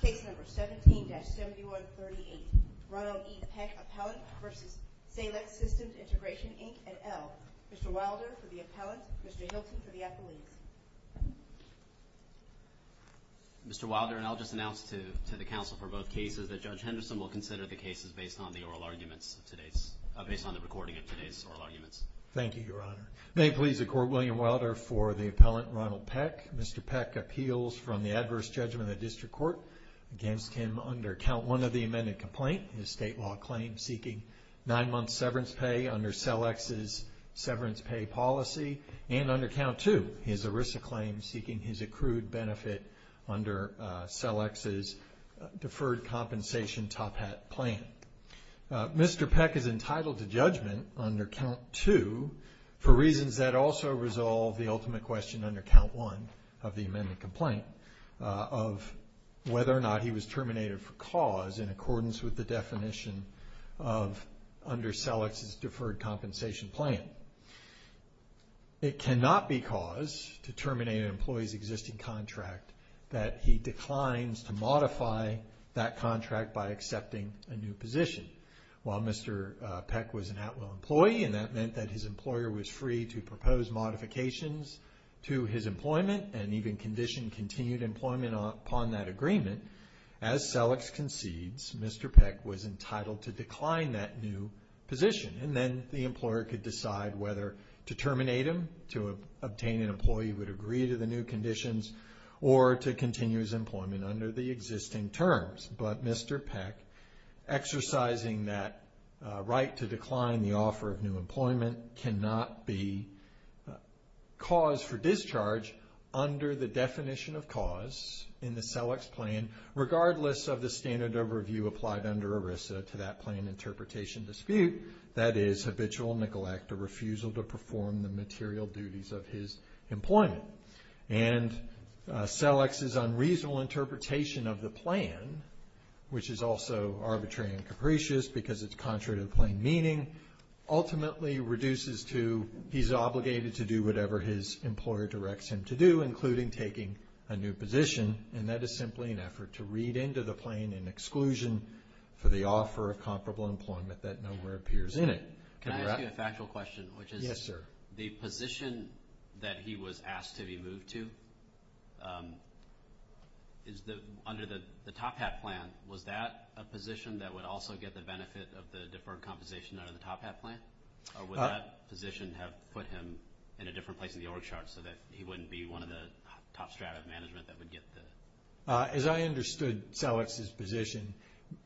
Case number 17-7138, Ronald E. Peck, Appellant v. Selex Systems Integration, Inc. and L. Mr. Wilder for the appellant, Mr. Hilton for the appellant. Mr. Wilder and I'll just announce to the counsel for both cases that Judge Henderson will consider the cases based on the oral arguments of today's, based on the recording of today's oral arguments. Thank you, Your Honor. May it please the Court, William Wilder for the appellant, Ronald Peck. Mr. Peck appeals from the adverse judgment of the district court against him under count one of the amended complaint, his state law claim seeking nine months severance pay under Selex's severance pay policy, and under count two, his ERISA claim seeking his accrued benefit under Selex's deferred compensation top hat plan. Mr. Peck is entitled to judgment under count two for reasons that also resolve the ultimate question under count one of the amended complaint of whether or not he was terminated for cause in accordance with the definition of under Selex's deferred compensation plan. It cannot be cause to terminate an employee's existing contract that he declines to modify that contract by accepting a new position. While Mr. Peck was an at-will employee, and that meant that his employer was free to propose modifications to his employment and even condition continued employment upon that agreement, as Selex concedes, Mr. Peck was entitled to decline that new position. And then the employer could decide whether to terminate him, to obtain an employee who would agree to the new conditions, or to continue his employment under the existing terms. But Mr. Peck, exercising that right to decline the offer of new employment cannot be cause for discharge under the definition of cause in the Selex plan, regardless of the standard overview applied under ERISA to that plan interpretation dispute, that is habitual neglect or refusal to perform the material duties of his employment. And Selex's unreasonable interpretation of the plan, which is also arbitrary and capricious because it's contrary to the plain meaning, ultimately reduces to he's obligated to do whatever his employer directs him to do, including taking a new position. And that is simply an effort to read into the plan an exclusion for the offer of comparable employment that nowhere appears in it. Can I ask you a factual question, which is the position that he was asked to be moved to, under the Top Hat plan, was that a position that would also get the benefit of the deferred compensation under the Top Hat plan? Or would that position have put him in a different place in the org chart so that he wouldn't be one of the top strat of management that would get the... As I understood Selex's position,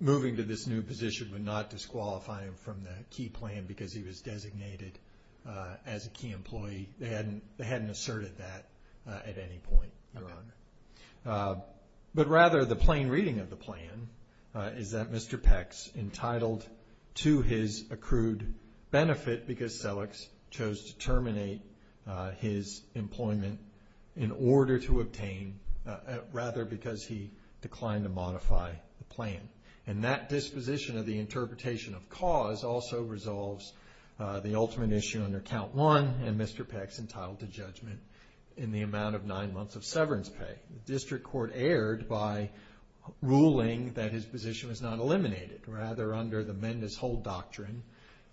moving to this new position would not disqualify him from the key plan because he was designated as a key employee. They hadn't asserted that at any point, Your Honor. But rather the plain reading of the plan is that Mr. Peck's entitled to his accrued benefit because Selex chose to terminate his employment in order to obtain, rather because he declined to modify the plan. And that disposition of the interpretation of cause also resolves the ultimate issue under count one and Mr. Peck's entitled to judgment in the amount of nine months of severance pay. The district court erred by ruling that his position was not eliminated.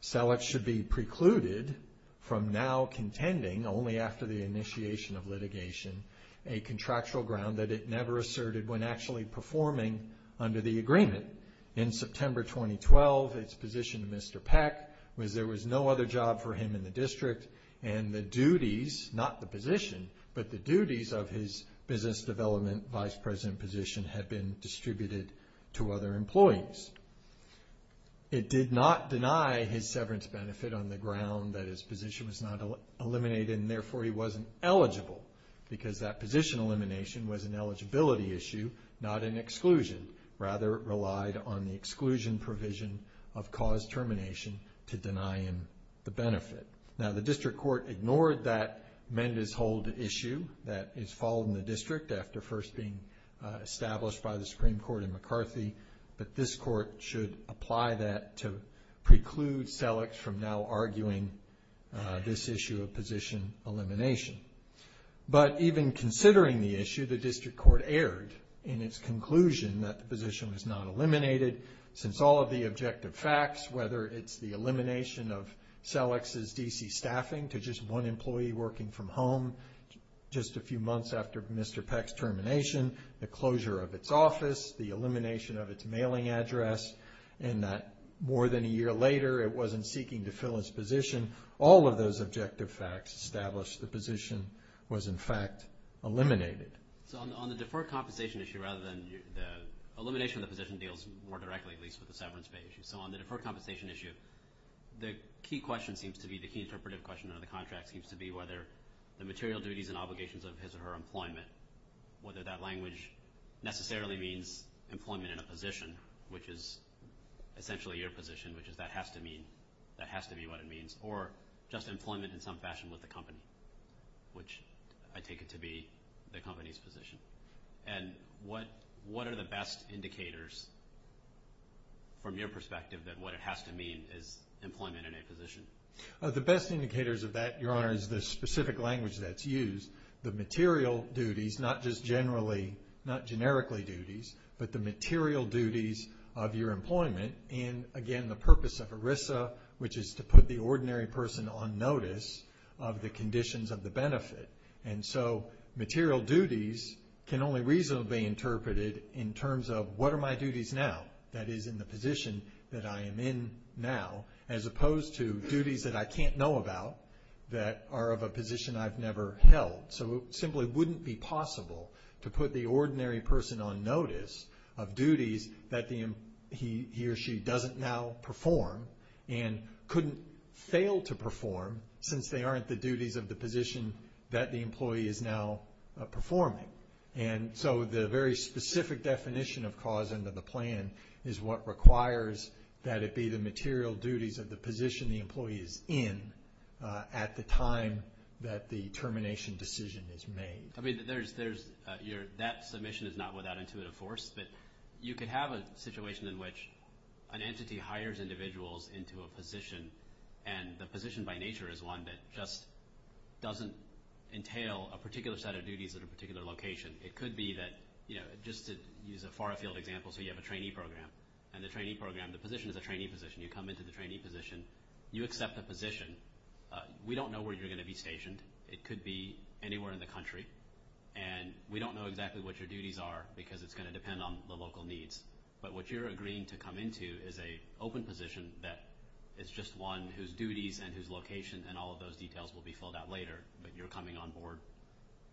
Selex should be precluded from now contending, only after the initiation of litigation, a contractual ground that it never asserted when actually performing under the agreement. In September 2012, it's position of Mr. Peck was there was no other job for him in the district and the duties, not the position, but the duties of his business development vice president position had been distributed to other employees. It did not deny his severance benefit on the ground that his position was not eliminated and therefore he wasn't eligible. Because that position elimination was an eligibility issue, not an exclusion. Rather it relied on the exclusion provision of cause termination to deny him the benefit. Now the district court ignored that Mendez Hold issue that is followed in the district after first being established by the Supreme Court in McCarthy. But this court should apply that to preclude Selex from now arguing this issue of position elimination. But even considering the issue, the district court erred in its conclusion that the position was not eliminated. Since all of the objective facts, whether it's the elimination of Selex's DC staffing to just one employee working from home just a few months after Mr. Peck's termination, the closure of its office, the elimination of its mailing address, and that more than a year later it wasn't seeking to fill his position, all of those objective facts established the position was in fact eliminated. So on the deferred compensation issue rather than the elimination of the position deals more directly at least with the severance pay issue. So on the deferred compensation issue, the key question seems to be, the key interpretive question under the contract seems to be whether the material duties and obligations of his or her employment, whether that language necessarily means employment in a position, which is essentially your position, which is that has to mean, that has to be what it means, or just employment in some fashion with the company, which I take it to be the company's position. And what are the best indicators from your perspective that what it has to mean is employment in a position? The best indicators of that, Your Honor, is the specific language that's used. The material duties, not just generally, not generically duties, but the material duties of your employment, and again the purpose of ERISA, which is to put the ordinary person on notice of the conditions of the benefit. And so material duties can only reasonably be interpreted in terms of what are my duties now, that is in the position that I am in now, as opposed to duties that I can't know about that are of a position I've never held. So it simply wouldn't be possible to put the ordinary person on notice of duties that he or she doesn't now perform and couldn't fail to perform since they aren't the duties of the position that the employee is now performing. And so the very specific definition of cause under the plan is what requires that it be the material duties of the position the employee is in at the time that the termination decision is made. I mean, that submission is not without intuitive force, but you could have a situation in which an entity hires individuals into a position and the position by nature is one that just doesn't entail a particular set of duties at a particular location. It could be that, just to use a far-field example, so you have a trainee program, and the position is a trainee position. You come into the trainee position. You accept the position. We don't know where you're going to be stationed. It could be anywhere in the country, and we don't know exactly what your duties are because it's going to depend on the local needs. But what you're agreeing to come into is an open position that is just one whose duties and whose location and all of those details will be filled out later, but you're coming on board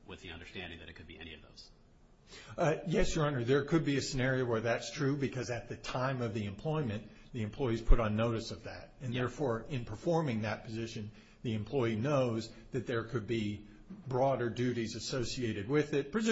with the understanding that it could be any of those. Yes, Your Honor. There could be a scenario where that's true because at the time of the employment, the employee's put on notice of that. And therefore, in performing that position, the employee knows that there could be broader duties associated with it, that's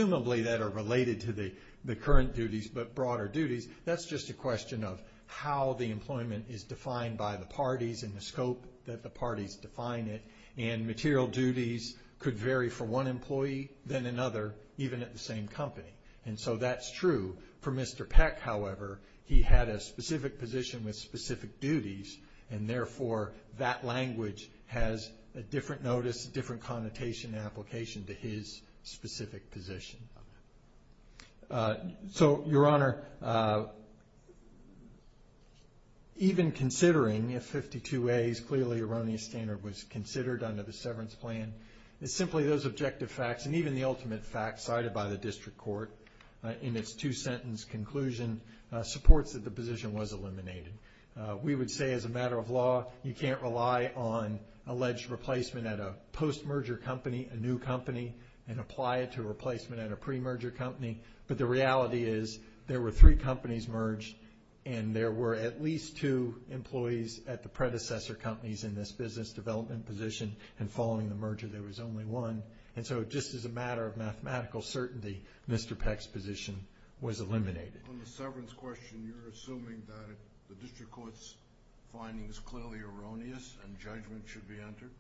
just a question of how the employment is defined by the parties and the scope that the parties define it. And material duties could vary for one employee than another, even at the same company. And so that's true. For Mr. Peck, however, he had a specific position with specific duties, and therefore that language has a different notice, a different connotation and application to his specific position. So, Your Honor, even considering if 52A's clearly erroneous standard was considered under the severance plan, it's simply those objective facts and even the ultimate facts cited by the district court in its two-sentence conclusion supports that the position was eliminated. We would say as a matter of law, you can't rely on alleged replacement at a post-merger company, a new company, and apply it to a replacement at a pre-merger company. But the reality is there were three companies merged, and there were at least two employees at the predecessor companies in this business development position, and following the merger there was only one. And so just as a matter of mathematical certainty, Mr. Peck's position was eliminated. On the severance question, you're assuming that the district court's finding is clearly erroneous and judgment should be entered?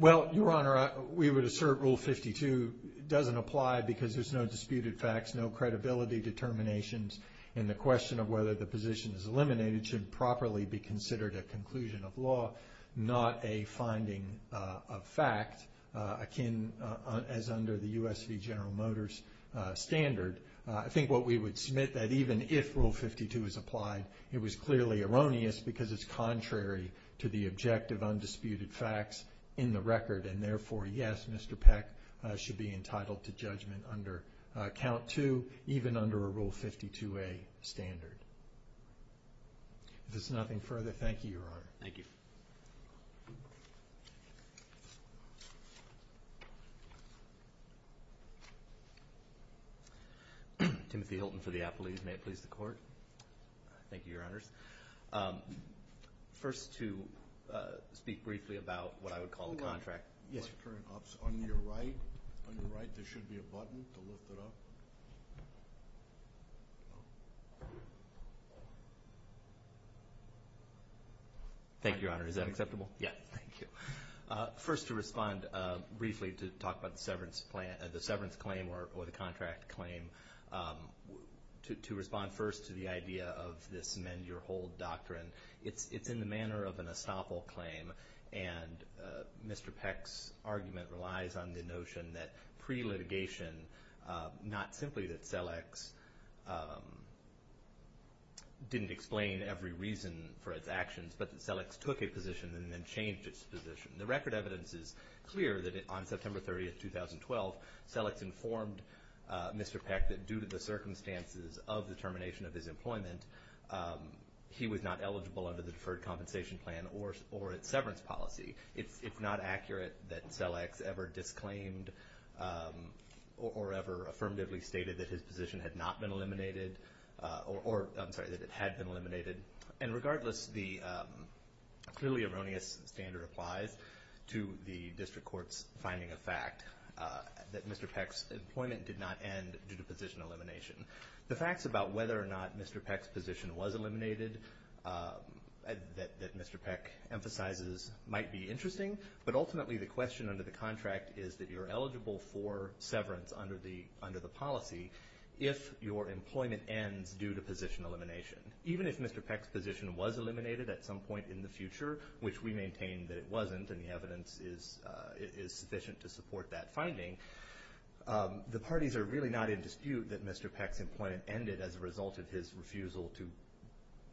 Well, Your Honor, we would assert Rule 52 doesn't apply because there's no disputed facts, no credibility determinations, and the question of whether the position is eliminated should properly be considered a conclusion of law, not a finding of fact akin as under the U.S. v. General Motors standard. I think what we would submit that even if Rule 52 is applied, it was clearly erroneous because it's contrary to the objective undisputed facts in the record, and therefore, yes, Mr. Peck should be entitled to judgment under Count 2, even under a Rule 52a standard. If there's nothing further, thank you, Your Honor. Thank you. Thank you. Timothy Hilton for the appellees. May it please the Court. Thank you, Your Honors. First to speak briefly about what I would call the contract. Hold on. Yes, Your Honor. On your right, there should be a button to lift it up. Thank you, Your Honor. Is that acceptable? Yes. Thank you. First to respond briefly to talk about the severance claim or the contract claim, to respond first to the idea of this mend your hold doctrine. It's in the manner of an estoppel claim, and Mr. Peck's argument relies on the notion that pre-litigation, not simply that Selex didn't explain every reason for its actions, but that Selex took a position and then changed its position. The record evidence is clear that on September 30, 2012, Selex informed Mr. Peck that due to the circumstances of the termination of his employment, he was not eligible under the Deferred Compensation Plan or its severance policy. It's not accurate that Selex ever disclaimed or ever affirmatively stated that his position had not been eliminated, or I'm sorry, that it had been eliminated. And regardless, the clearly erroneous standard applies to the District Court's finding of fact that Mr. Peck's employment did not end due to position elimination. The facts about whether or not Mr. Peck's position was eliminated that Mr. Peck emphasizes might be interesting, but ultimately the question under the contract is that you're eligible for severance under the policy if your employment ends due to position elimination. Even if Mr. Peck's position was eliminated at some point in the future, which we maintain that it wasn't, and the evidence is sufficient to support that finding, the parties are really not in dispute that Mr. Peck's employment ended as a result of his refusal to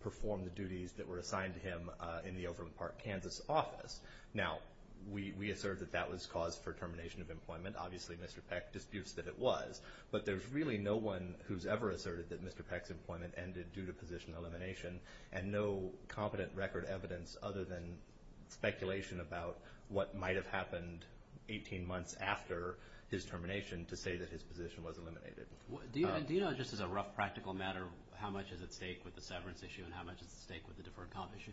perform the duties that were assigned to him in the Overland Park, Kansas office. Now, we assert that that was cause for termination of employment. Obviously, Mr. Peck disputes that it was, but there's really no one who's ever asserted that Mr. Peck's employment ended due to position elimination, and no competent record evidence other than speculation about what might have happened 18 months after his termination to say that his position was eliminated. Do you know, just as a rough practical matter, how much is at stake with the severance issue and how much is at stake with the deferred comp issue?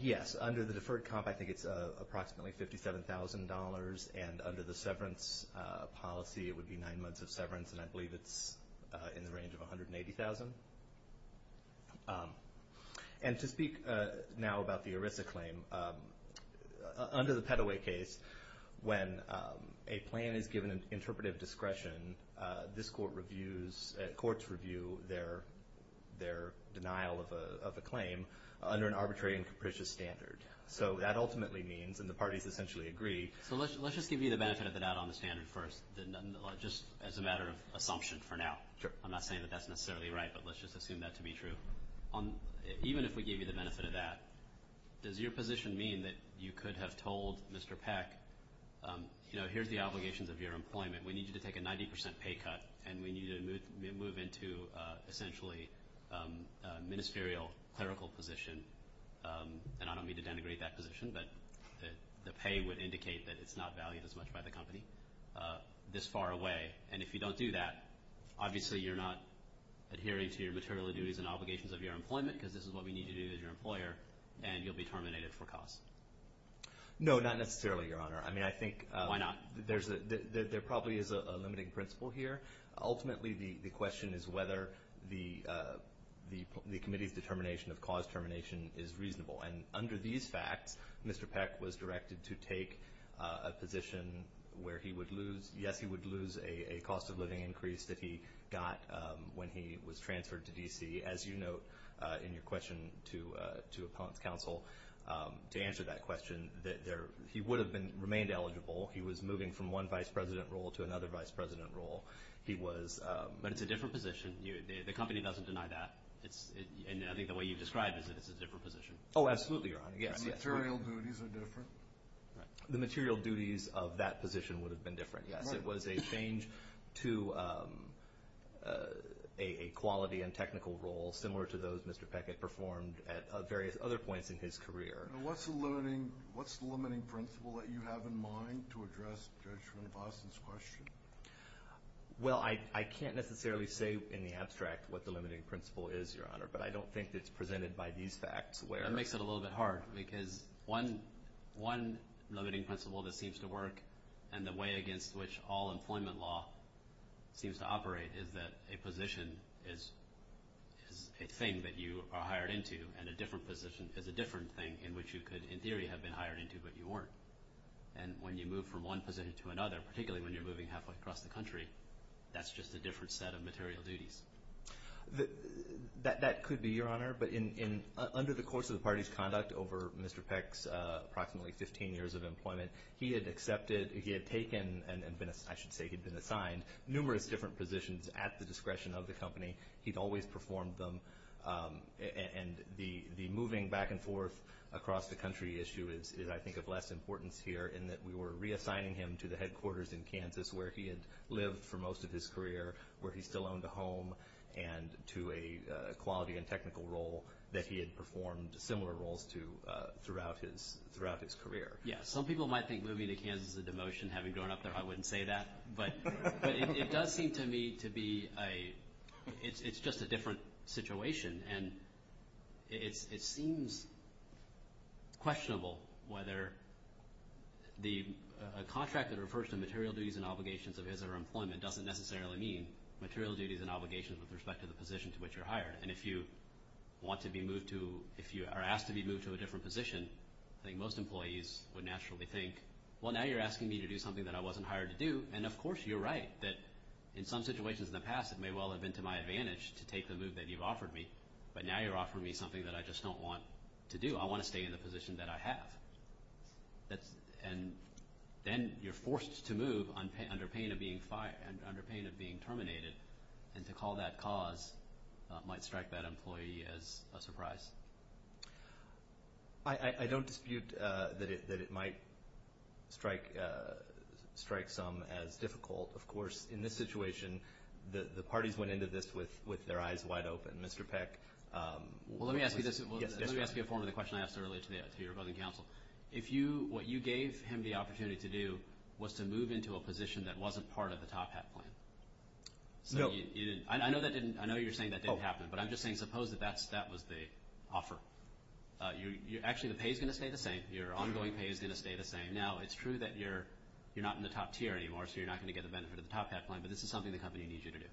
Yes. Under the deferred comp, I think it's approximately $57,000, and under the severance policy, it would be nine months of severance, and I believe it's in the range of $180,000. And to speak now about the ERISA claim, under the Peddoway case, when a plan is given interpretive discretion, this court reviews, courts review their denial of a claim under an arbitrary and capricious standard. So that ultimately means, and the parties essentially agree... So let's just give you the benefit of the doubt on the standard first, just as a matter of assumption for now. I'm not saying that that's necessarily right, but let's just assume that to be true. Even if we give you the benefit of that, does your position mean that you could have told Mr. Peck, you know, here's the obligations of your employment. We need you to take a 90 percent pay cut, and we need you to move into essentially a ministerial clerical position. And I don't mean to denigrate that position, but the pay would indicate that it's not valued as much by the company this far away. And if you don't do that, obviously you're not adhering to your material duties and obligations of your employment because this is what we need you to do as your employer, and you'll be terminated for cause. No, not necessarily, Your Honor. I mean, I think... Why not? There probably is a limiting principle here. Ultimately, the question is whether the committee's determination of cause termination is reasonable. And under these facts, Mr. Peck was directed to take a position where he would lose, a cost of living increase that he got when he was transferred to D.C. As you note in your question to Appellant's Counsel, to answer that question, he would have remained eligible. He was moving from one vice president role to another vice president role. But it's a different position. The company doesn't deny that. And I think the way you've described it is that it's a different position. Oh, absolutely, Your Honor. Material duties are different. The material duties of that position would have been different, yes. It was a change to a quality and technical role, similar to those Mr. Peck had performed at various other points in his career. And what's the limiting principle that you have in mind to address Judge von Boston's question? Well, I can't necessarily say in the abstract what the limiting principle is, Your Honor, but I don't think it's presented by these facts where... That makes it a little bit hard because one limiting principle that seems to work and the way against which all employment law seems to operate is that a position is a thing that you are hired into and a different position is a different thing in which you could, in theory, have been hired into but you weren't. And when you move from one position to another, particularly when you're moving halfway across the country, that's just a different set of material duties. That could be, Your Honor. But under the course of the party's conduct over Mr. Peck's approximately 15 years of employment, he had accepted, he had taken, and I should say he'd been assigned, numerous different positions at the discretion of the company. He'd always performed them. And the moving back and forth across the country issue is, I think, of less importance here in that we were reassigning him to the headquarters in Kansas where he had lived for most of his career, where he still owned a home, and to a quality and technical role that he had performed similar roles to throughout his career. Yes. Some people might think moving to Kansas is a demotion. Having grown up there, I wouldn't say that. But it does seem to me to be a – it's just a different situation. And it seems questionable whether the – a contract that refers to material duties and obligations of his or her employment doesn't necessarily mean material duties and obligations with respect to the position to which you're hired. And if you want to be moved to – if you are asked to be moved to a different position, I think most employees would naturally think, well, now you're asking me to do something that I wasn't hired to do. And, of course, you're right that in some situations in the past, it may well have been to my advantage to take the move that you've offered me, but now you're offering me something that I just don't want to do. I want to stay in the position that I have. And then you're forced to move under pain of being – under pain of being terminated. And to call that cause might strike that employee as a surprise. I don't dispute that it might strike some as difficult. Of course, in this situation, the parties went into this with their eyes wide open. Mr. Peck – Well, let me ask you this. Let me ask you a form of the question I asked earlier to your opposing counsel. If you – what you gave him the opportunity to do was to move into a position that wasn't part of the Top Hat plan. No. So you didn't – I know that didn't – I know you're saying that didn't happen. But I'm just saying suppose that that was the offer. Actually, the pay is going to stay the same. Your ongoing pay is going to stay the same. Now, it's true that you're not in the top tier anymore, so you're not going to get the benefit of the Top Hat plan, but this is something the company needs you to do.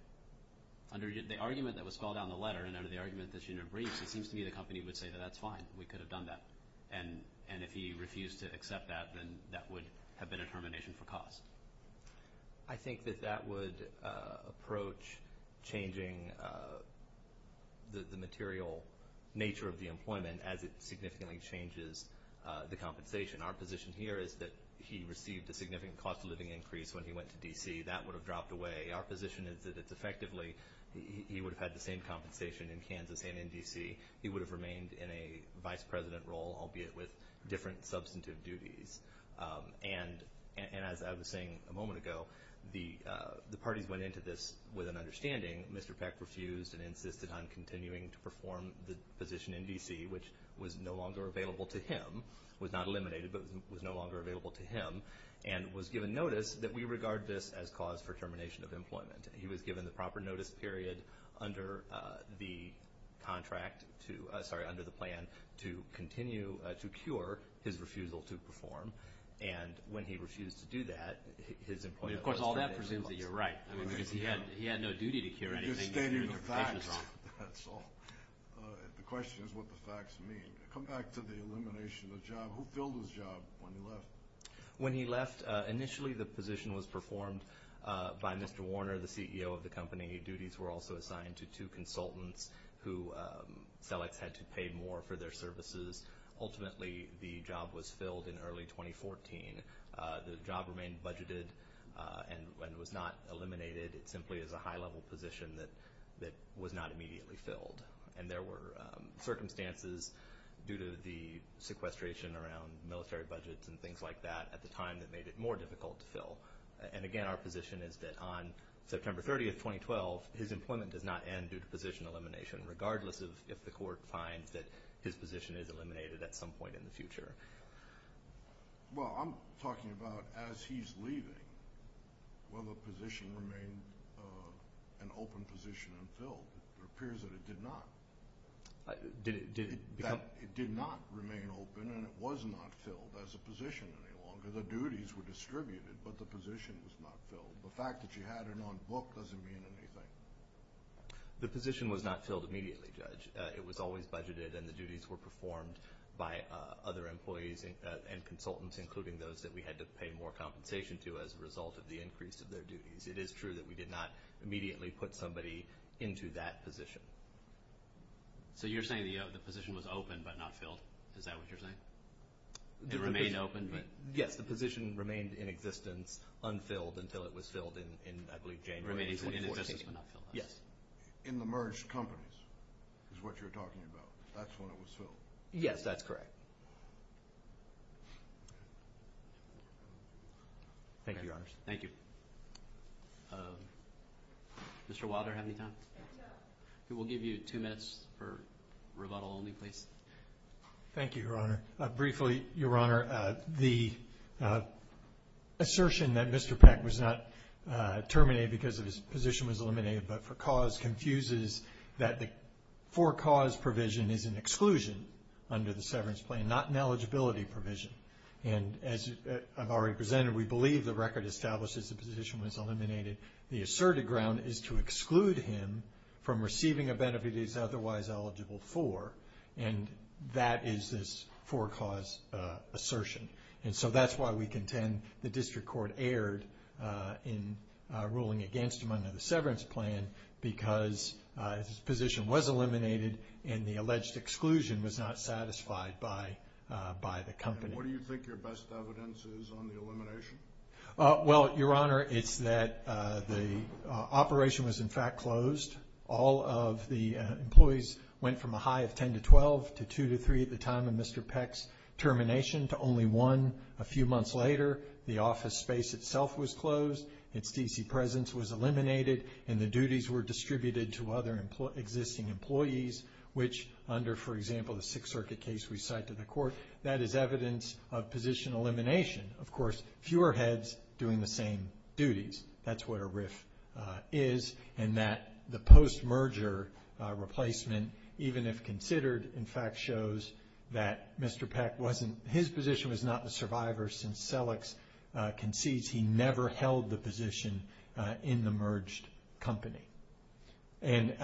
Under the argument that was spelled out in the letter and under the argument that's in your briefs, it seems to me the company would say that that's fine. We could have done that. And if he refused to accept that, then that would have been a termination for cause. I think that that would approach changing the material nature of the employment as it significantly changes the compensation. Our position here is that he received a significant cost-of-living increase when he went to D.C. That would have dropped away. Our position is that it's effectively – he would have had the same compensation in Kansas and in D.C. He would have remained in a vice president role, albeit with different substantive duties. And as I was saying a moment ago, the parties went into this with an understanding. Mr. Peck refused and insisted on continuing to perform the position in D.C., which was no longer available to him – was not eliminated, but was no longer available to him – and was given notice that we regard this as cause for termination of employment. He was given the proper notice period under the contract to – And when he refused to do that, his employment was terminated. Of course, all that presumes that you're right. I mean, because he had no duty to cure anything. You're stating the facts. That's all. The question is what the facts mean. Come back to the elimination of the job. Who filled his job when he left? When he left, initially the position was performed by Mr. Warner, the CEO of the company. Duties were also assigned to two consultants who – CELEX had to pay more for their services. Ultimately, the job was filled in early 2014. The job remained budgeted and was not eliminated. It simply is a high-level position that was not immediately filled. And there were circumstances due to the sequestration around military budgets and things like that at the time that made it more difficult to fill. And, again, our position is that on September 30, 2012, his employment does not end due to position elimination, regardless if the court finds that his position is eliminated at some point in the future. Well, I'm talking about as he's leaving. Will the position remain an open position and filled? It appears that it did not. It did not remain open and it was not filled as a position any longer. The duties were distributed, but the position was not filled. The fact that you had it on book doesn't mean anything. The position was not filled immediately, Judge. It was always budgeted, and the duties were performed by other employees and consultants, including those that we had to pay more compensation to as a result of the increase of their duties. It is true that we did not immediately put somebody into that position. So you're saying the position was open but not filled? Is that what you're saying? It remained open? Yes, the position remained in existence, unfilled, until it was filled in, I believe, January 2014. In the merged companies is what you're talking about. That's when it was filled. Yes, that's correct. Thank you, Your Honors. Thank you. Mr. Wilder, do you have any time? We will give you two minutes for rebuttal only, please. Thank you, Your Honor. Briefly, Your Honor, the assertion that Mr. Peck was not terminated because his position was eliminated but for cause confuses that the for cause provision is an exclusion under the severance plan, not an eligibility provision. And as I've already presented, we believe the record establishes the position was eliminated. The asserted ground is to exclude him from receiving a benefit he is otherwise eligible for, and that is this for cause assertion. And so that's why we contend the district court erred in ruling against him under the severance plan because his position was eliminated and the alleged exclusion was not satisfied by the company. And what do you think your best evidence is on the elimination? Well, Your Honor, it's that the operation was, in fact, closed. All of the employees went from a high of 10 to 12 to 2 to 3 at the time of Mr. Peck's termination to only one a few months later. The office space itself was closed. Its D.C. presence was eliminated, and the duties were distributed to other existing employees, which under, for example, the Sixth Circuit case we cite to the court, that is evidence of position elimination. Of course, fewer heads doing the same duties. That's what a RIF is, and that the post-merger replacement, even if considered, in fact shows that Mr. Peck wasn't his position was not the survivor since Selleck's concedes he never held the position in the merged company. And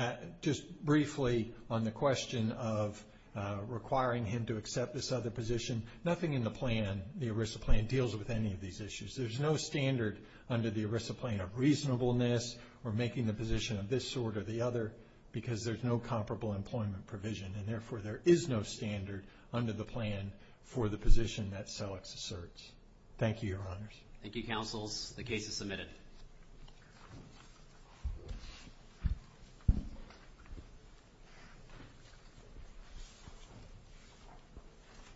just briefly on the question of requiring him to accept this other position, nothing in the plan, the ERISA plan, deals with any of these issues. There's no standard under the ERISA plan of reasonableness or making the position of this sort or the other because there's no comparable employment provision, and therefore there is no standard under the plan for the position that Selleck's asserts. Thank you, Your Honors. Thank you, Counsels. The case is submitted.